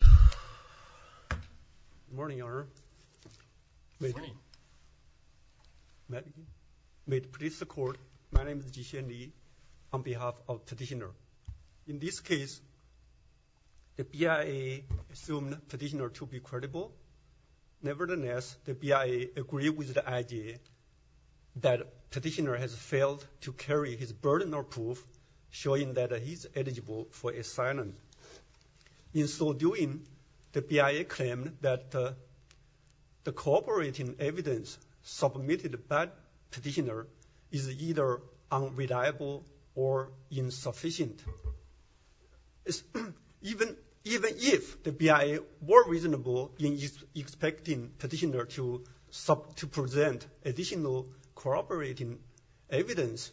Good morning, Your Honor. Good morning. May it please the Court, my name is Jixian Li on behalf of the petitioner. In this case, the BIA assumed the petitioner to be credible. Nevertheless, the BIA agreed with the idea that the petitioner has failed to carry his burden of proof, showing that he is eligible for asylum. In so doing, the BIA claimed that the corroborating evidence submitted by the petitioner is either unreliable or insufficient. Even if the BIA were reasonable in expecting petitioner to present additional corroborating evidence,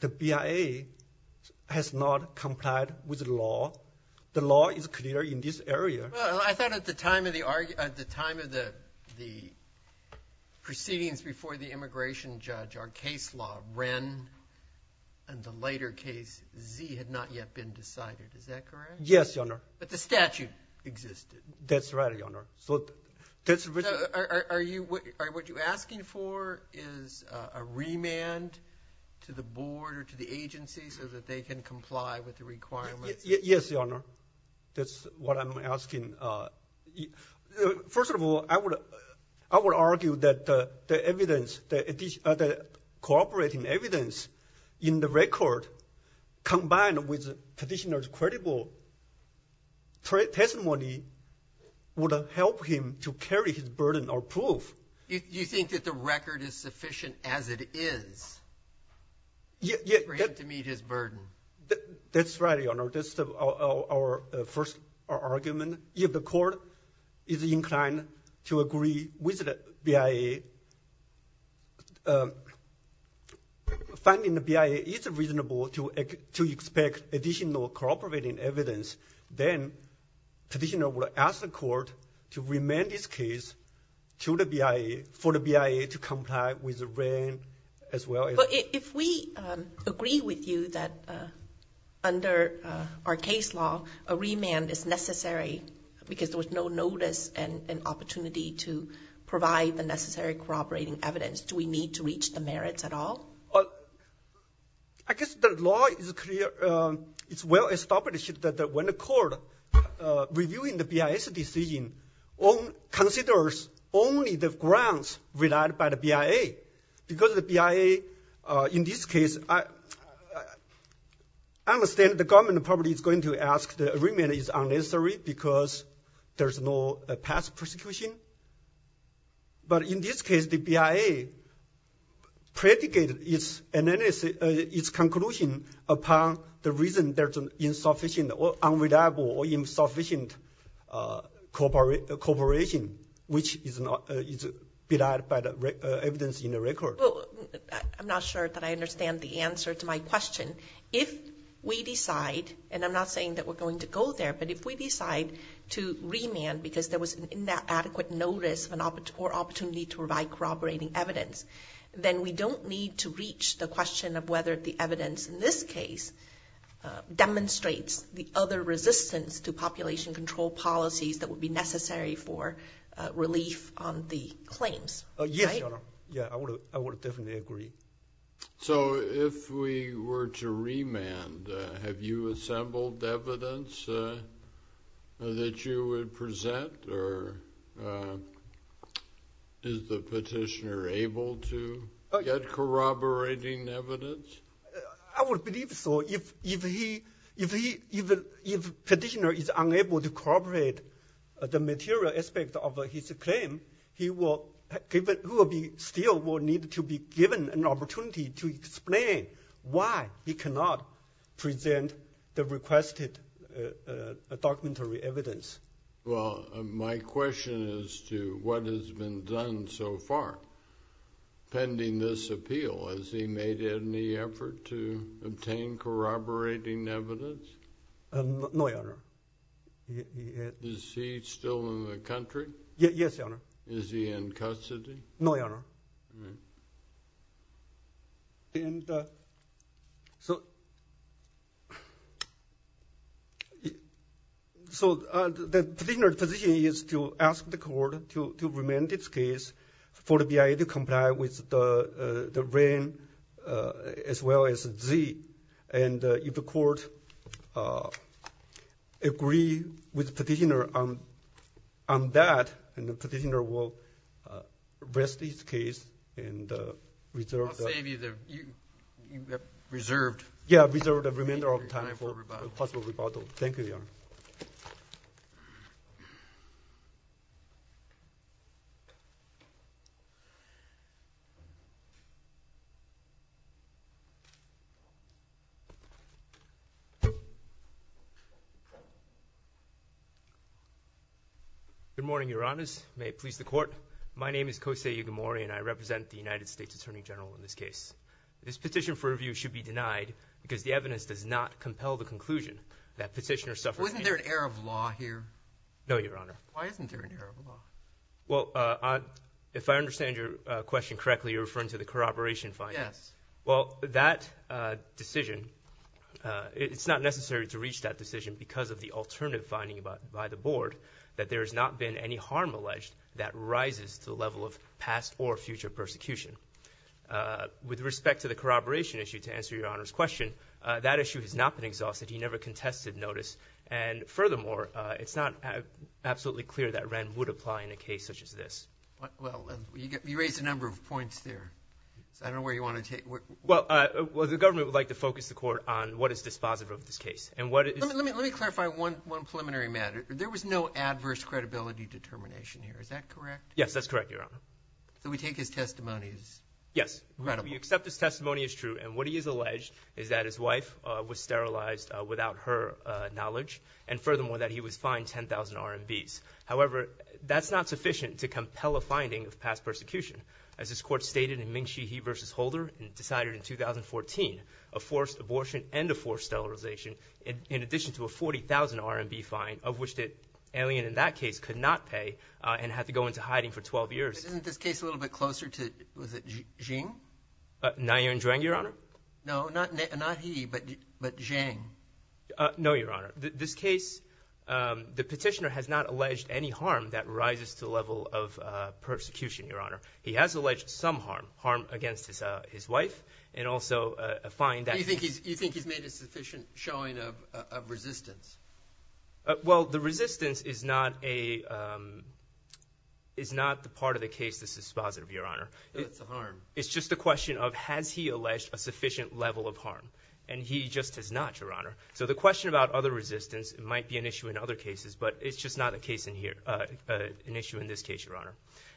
the BIA has not complied with the law. The law is clear in this area. Well, I thought at the time of the proceedings before the immigration judge, our case law, REN, and the later case, Z, had not yet been decided. Is that correct? Yes, Your Honor. But the statute existed. That's right, Your Honor. So what you're asking for is a remand to the board or to the agency so that they can comply with the requirements? Yes, Your Honor. That's what I'm asking. First of all, I would argue that the evidence, the corroborating evidence in the record combined with petitioner's credible testimony would help him to carry his burden of proof. You think that the record is sufficient as it is for him to meet his burden? That's right, Your Honor. That's our first argument. If the court is inclined to agree with the BIA, finding the BIA is reasonable to expect additional corroborating evidence, then petitioner will ask the court to remand this case to the BIA for the BIA to comply with REN as well. But if we agree with you that under our case law, a remand is necessary because there was no notice and opportunity to provide the necessary corroborating evidence, do we need to reach the merits at all? I guess the law is clear. It's well established that when the court reviewing the BIA's decision considers only the grounds relied by the BIA because the BIA, in this case, I understand the government probably is going to ask the remand is unnecessary because there's no past prosecution. But in this case, the BIA predicated its conclusion upon the reason there's an insufficient or unreliable or insufficient corroboration, which is relied by the evidence in the record. I'm not sure that I understand the answer to my question. If we decide, and I'm not saying that we're going to go there, but if we decide to remand because there was inadequate notice or opportunity to provide corroborating evidence, then we don't need to reach the question of whether the evidence in this case demonstrates the other resistance to population control policies that would be necessary for relief on the claims. Yes, Your Honor. Yeah, I would definitely agree. So if we were to remand, have you assembled evidence that you would present, or is the petitioner able to get corroborating evidence? I would believe so. If the petitioner is unable to corroborate the material aspect of his claim, he will still need to be given an opportunity to explain why he cannot present the requested documentary evidence. Well, my question is to what has been done so far pending this appeal. Has he made any effort to obtain corroborating evidence? No, Your Honor. Is he still in the country? Yes, Your Honor. Is he in custody? No, Your Honor. And so the petitioner's position is to ask the court to remand this case for the BIA to comply with the reign as well as Z. And if the court agrees with the petitioner on that, then the petitioner will rest his case and reserve the remainder of time for a possible rebuttal. Thank you, Your Honor. Good morning, Your Honors. May it please the court. My name is Kose Igemori and I represent the United States Attorney General in this case. This petition for review should be denied because the evidence does not compel the conclusion that petitioner suffered. Wasn't there an error of law here? No, Your Honor. Why isn't there an error of law? Well, if I understand your question correctly, you're referring to the corroboration finding. Yes. Well, that decision, it's not necessary to reach that decision because of the alternative finding by the board that there has not been any harm alleged that rises to the level of past or future persecution. With respect to the corroboration issue, to answer Your Honor's question, that issue has not been exhausted. He never contested notice. And furthermore, it's not absolutely clear that Wren would apply in a case such as this. Well, you raised a number of points there. I don't know where you want to take it. Well, the government would like to focus the court on what is dispositive of this case. Let me clarify one preliminary matter. There was no adverse credibility determination here. Is that correct? Yes, that's correct, Your Honor. So we take his testimony as credible? Yes. We accept his testimony as true. And what he has alleged is that his wife was sterilized without her knowledge and, furthermore, that he was fined 10,000 RMBs. However, that's not sufficient to compel a finding of past persecution. As this court stated in Ming Shi He v. Holder and decided in 2014, a forced abortion and a forced sterilization in addition to a 40,000 RMB fine of which the alien in that case could not pay and had to go into hiding for 12 years. Isn't this case a little bit closer to, was it, Jing? Nguyen Duong, Your Honor? No, not he, but Jing. No, Your Honor. This case, the petitioner has not alleged any harm that rises to the level of persecution, Your Honor. He has alleged some harm, harm against his wife and also a fine. You think he's made a sufficient showing of resistance? Well, the resistance is not a, is not the part of the case that's dispositive, Your Honor. It's a harm. It's just a question of has he alleged a sufficient level of harm, and he just has not, Your Honor. So the question about other resistance might be an issue in other cases, but it's just not the case in here, an issue in this case, Your Honor.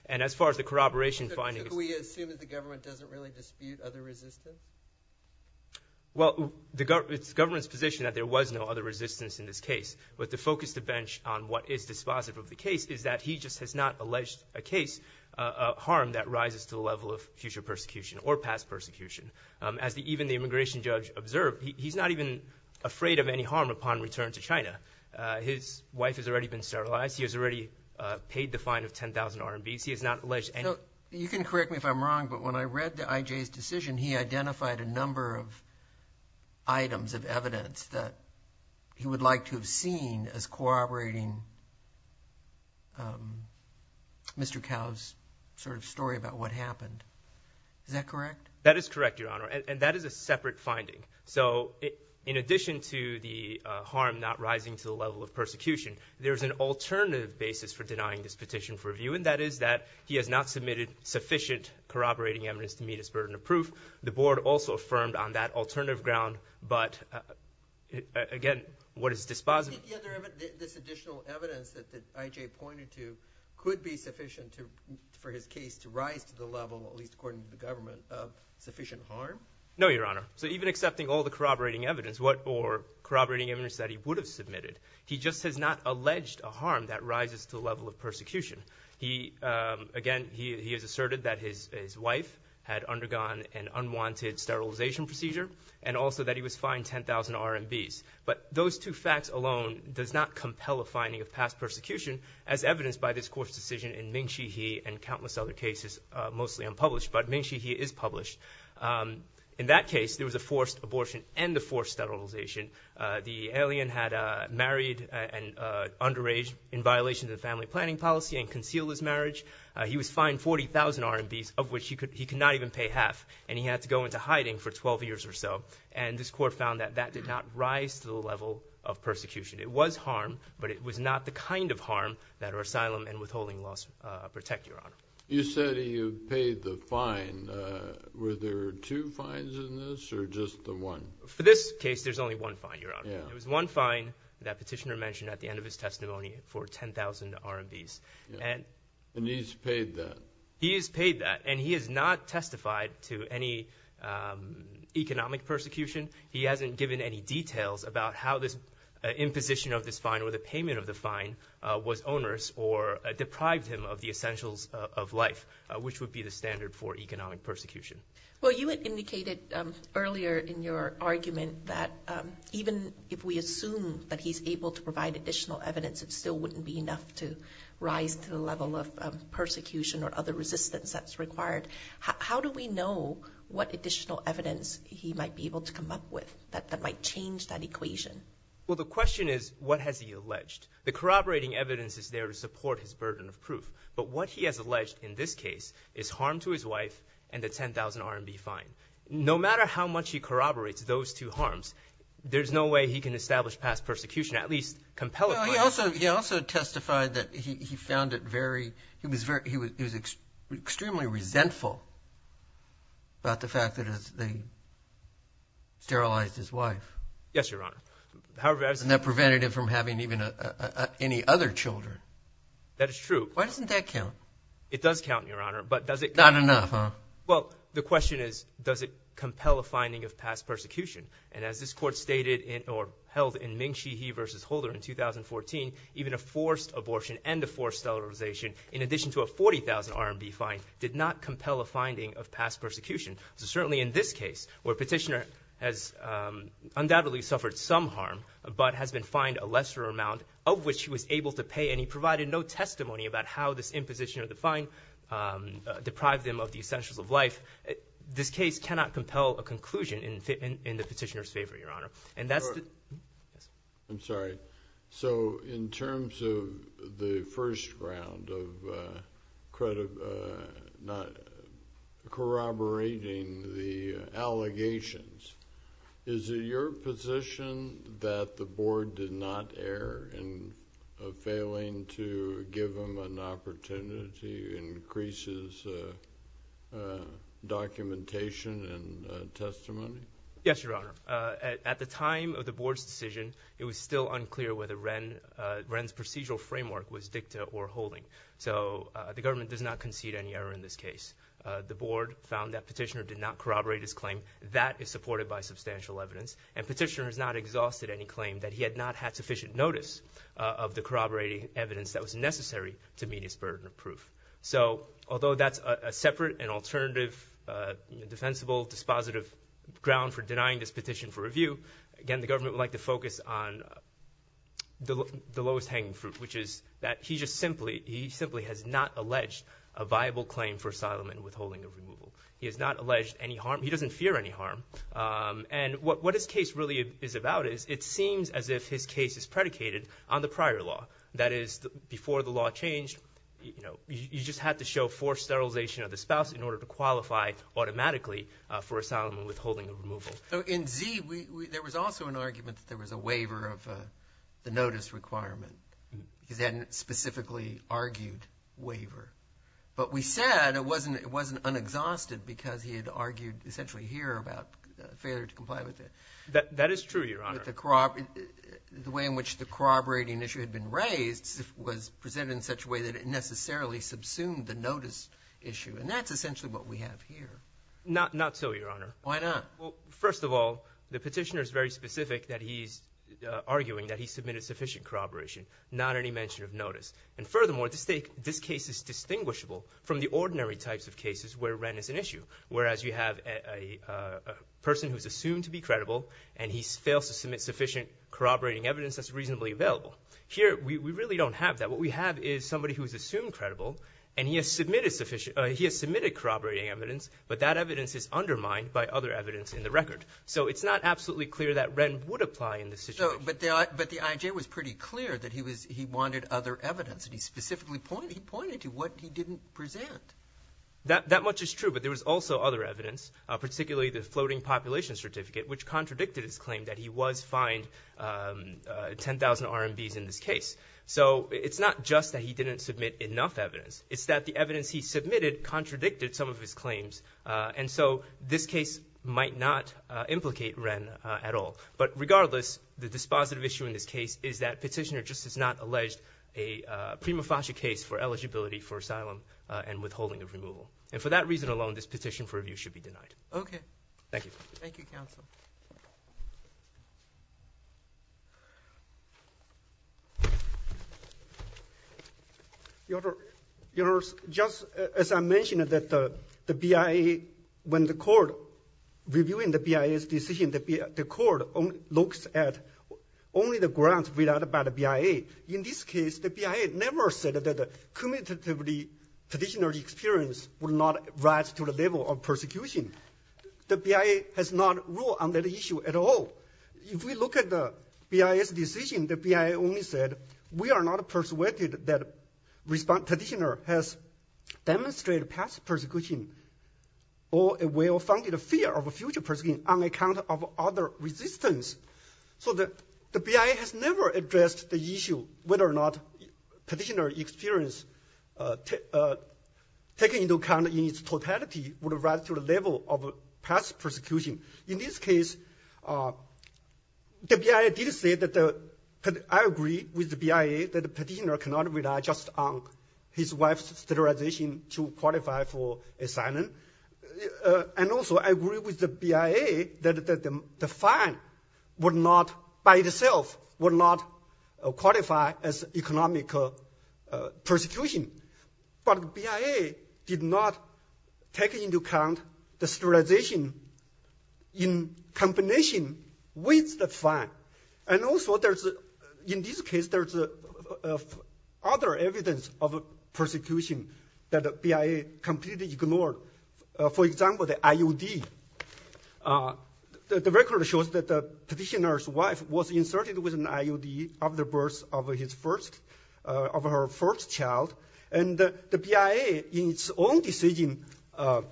And as far as the corroboration finding is concerned. Could we assume that the government doesn't really dispute other resistance? Well, it's the government's position that there was no other resistance in this case, but to focus the bench on what is dispositive of the case is that he just has not alleged a case, a harm that rises to the level of future persecution or past persecution. As even the immigration judge observed, he's not even afraid of any harm upon return to China. His wife has already been sterilized. He has already paid the fine of 10,000 RMBs. He has not alleged any. You can correct me if I'm wrong, but when I read I.J.'s decision, he identified a number of items of evidence that he would like to have seen as corroborating Mr. Cao's sort of story about what happened. Is that correct? That is correct, Your Honor, and that is a separate finding. So in addition to the harm not rising to the level of persecution, that is that he has not submitted sufficient corroborating evidence to meet his burden of proof. The board also affirmed on that alternative ground, but again, what is dispositive? This additional evidence that I.J. pointed to could be sufficient for his case to rise to the level, at least according to the government, of sufficient harm? No, Your Honor. So even accepting all the corroborating evidence or corroborating evidence that he would have submitted, he just has not alleged a harm that rises to the level of persecution. Again, he has asserted that his wife had undergone an unwanted sterilization procedure and also that he was fined 10,000 RMBs. But those two facts alone does not compel a finding of past persecution, as evidenced by this court's decision in Ming-Chi He and countless other cases, mostly unpublished. But Ming-Chi He is published. In that case, there was a forced abortion and a forced sterilization. The alien had married and underage in violation of the family planning policy and concealed his marriage. He was fined 40,000 RMBs, of which he could not even pay half, and he had to go into hiding for 12 years or so. And this court found that that did not rise to the level of persecution. It was harm, but it was not the kind of harm that our asylum and withholding laws protect, Your Honor. You said he paid the fine. Were there two fines in this or just the one? For this case, there's only one fine, Your Honor. It was one fine that Petitioner mentioned at the end of his testimony for 10,000 RMBs. And he's paid that? He has paid that, and he has not testified to any economic persecution. He hasn't given any details about how this imposition of this fine or the payment of the fine was onerous or deprived him of the essentials of life, which would be the standard for economic persecution. Well, you indicated earlier in your argument that even if we assume that he's able to provide additional evidence, it still wouldn't be enough to rise to the level of persecution or other resistance that's required. How do we know what additional evidence he might be able to come up with that might change that equation? Well, the question is, what has he alleged? The corroborating evidence is there to support his burden of proof. But what he has alleged in this case is harm to his wife and the 10,000 RMB fine. No matter how much he corroborates those two harms, there's no way he can establish past persecution, at least compellingly. He also testified that he found it very – he was extremely resentful about the fact that they sterilized his wife. Yes, Your Honor. And that prevented him from having any other children. That is true. Why doesn't that count? It does count, Your Honor, but does it – Not enough, huh? Well, the question is, does it compel a finding of past persecution? And as this Court stated or held in Ming Shi He v. Holder in 2014, even a forced abortion and a forced sterilization, in addition to a 40,000 RMB fine, did not compel a finding of past persecution. So certainly in this case, where a petitioner has undoubtedly suffered some harm but has been fined a lesser amount, of which he was able to pay and he provided no testimony about how this imposition of the fine deprived him of the essentials of life, this case cannot compel a conclusion in the petitioner's favor, Your Honor. I'm sorry. So in terms of the first round of corroborating the allegations, is it your position that the Board did not err in failing to give him an opportunity to increase his documentation and testimony? Yes, Your Honor. At the time of the Board's decision, it was still unclear whether Wren's procedural framework was dicta or holding. So the government does not concede any error in this case. The Board found that petitioner did not corroborate his claim. That is supported by substantial evidence, and petitioner has not exhausted any claim that he had not had sufficient notice of the corroborating evidence that was necessary to meet his burden of proof. So although that's a separate and alternative defensible dispositive ground for denying this petition for review, again, the government would like to focus on the lowest hanging fruit, which is that he just simply has not alleged a viable claim for asylum and withholding of removal. He has not alleged any harm. He doesn't fear any harm. And what his case really is about is it seems as if his case is predicated on the prior law. That is, before the law changed, you know, you just had to show forced sterilization of the spouse in order to qualify automatically for asylum and withholding of removal. So in Z, there was also an argument that there was a waiver of the notice requirement. He's had a specifically argued waiver. But we said it wasn't unexhausted because he had argued essentially here about failure to comply with it. That is true, Your Honor. But the way in which the corroborating issue had been raised was presented in such a way that it necessarily subsumed the notice issue. And that's essentially what we have here. Not so, Your Honor. Why not? Well, first of all, the petitioner is very specific that he's arguing that he submitted sufficient corroboration, not any mention of notice. And furthermore, this case is distinguishable from the ordinary types of cases where rent is an issue, whereas you have a person who is assumed to be credible, and he fails to submit sufficient corroborating evidence that's reasonably available. Here, we really don't have that. What we have is somebody who is assumed credible, and he has submitted corroborating evidence, but that evidence is undermined by other evidence in the record. So it's not absolutely clear that rent would apply in this situation. But the IJ was pretty clear that he wanted other evidence, and he specifically pointed to what he didn't present. That much is true, but there was also other evidence, particularly the floating population certificate, which contradicted his claim that he was fined 10,000 RMVs in this case. So it's not just that he didn't submit enough evidence. It's that the evidence he submitted contradicted some of his claims, and so this case might not implicate rent at all. But regardless, the dispositive issue in this case is that petitioner just has not alleged a prima facie case for eligibility for asylum and withholding of removal. And for that reason alone, this petition for review should be denied. Thank you, counsel. Your Honor, just as I mentioned that the BIA, when the court reviewing the BIA's decision, the court looks at only the grounds read out by the BIA. In this case, the BIA never said that the commutatively petitioner experience would not rise to the level of persecution. The BIA has not ruled on that issue at all. If we look at the BIA's decision, the BIA only said, we are not persuaded that petitioner has demonstrated past persecution or a well-founded fear of future persecution on account of other resistance. So the BIA has never addressed the issue whether or not petitioner experience, taken into account in its totality, would rise to the level of past persecution. In this case, the BIA did say that I agree with the BIA that the petitioner cannot rely just on his wife's sterilization to qualify for asylum. And also, I agree with the BIA that the fine would not, by itself, would not qualify as economic persecution. But the BIA did not take into account the sterilization in combination with the fine. And also, in this case, there's other evidence of persecution that the BIA completely ignored. For example, the IUD. The record shows that the petitioner's wife was inserted with an IUD after the birth of her first child. And the BIA, in its own decision, has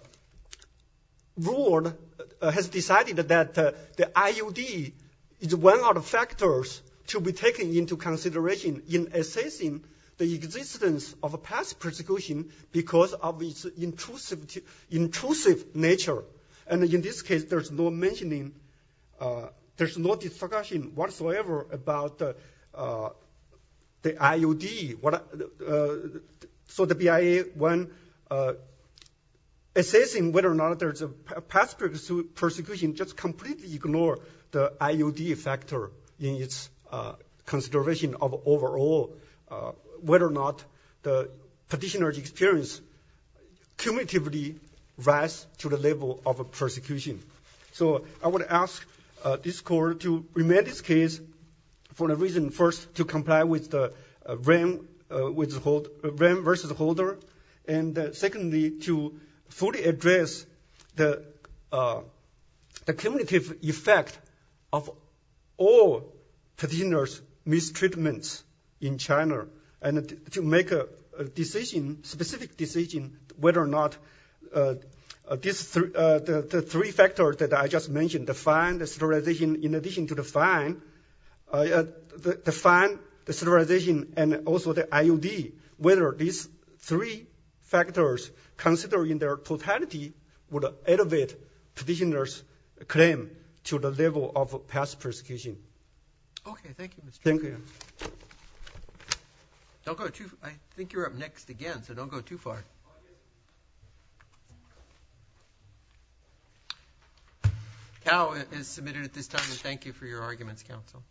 decided that the IUD is one of the factors to be taken into consideration in assessing the existence of past persecution because of its intrusive nature. And in this case, there's no mentioning, there's no discussion whatsoever about the IUD. So the BIA, when assessing whether or not there's a past persecution, just completely ignored the IUD factor in its consideration of overall, whether or not the petitioner's experience cumulatively rise to the level of persecution. So I would ask this court to remand this case for a reason. First, to comply with the rem versus holder. And secondly, to fully address the cumulative effect of all petitioner's mistreatments in China. And to make a decision, specific decision, whether or not the three factors that I just mentioned, the fine, the sterilization, in addition to the fine, the fine, the sterilization, and also the IUD, whether these three factors, considering their totality, would elevate petitioner's claim to the level of past persecution. Okay, thank you, Mr. Chen. Thank you. Don't go too far. I think you're up next again, so don't go too far. Okay. Tao is submitted at this time, and thank you for your arguments, counsel.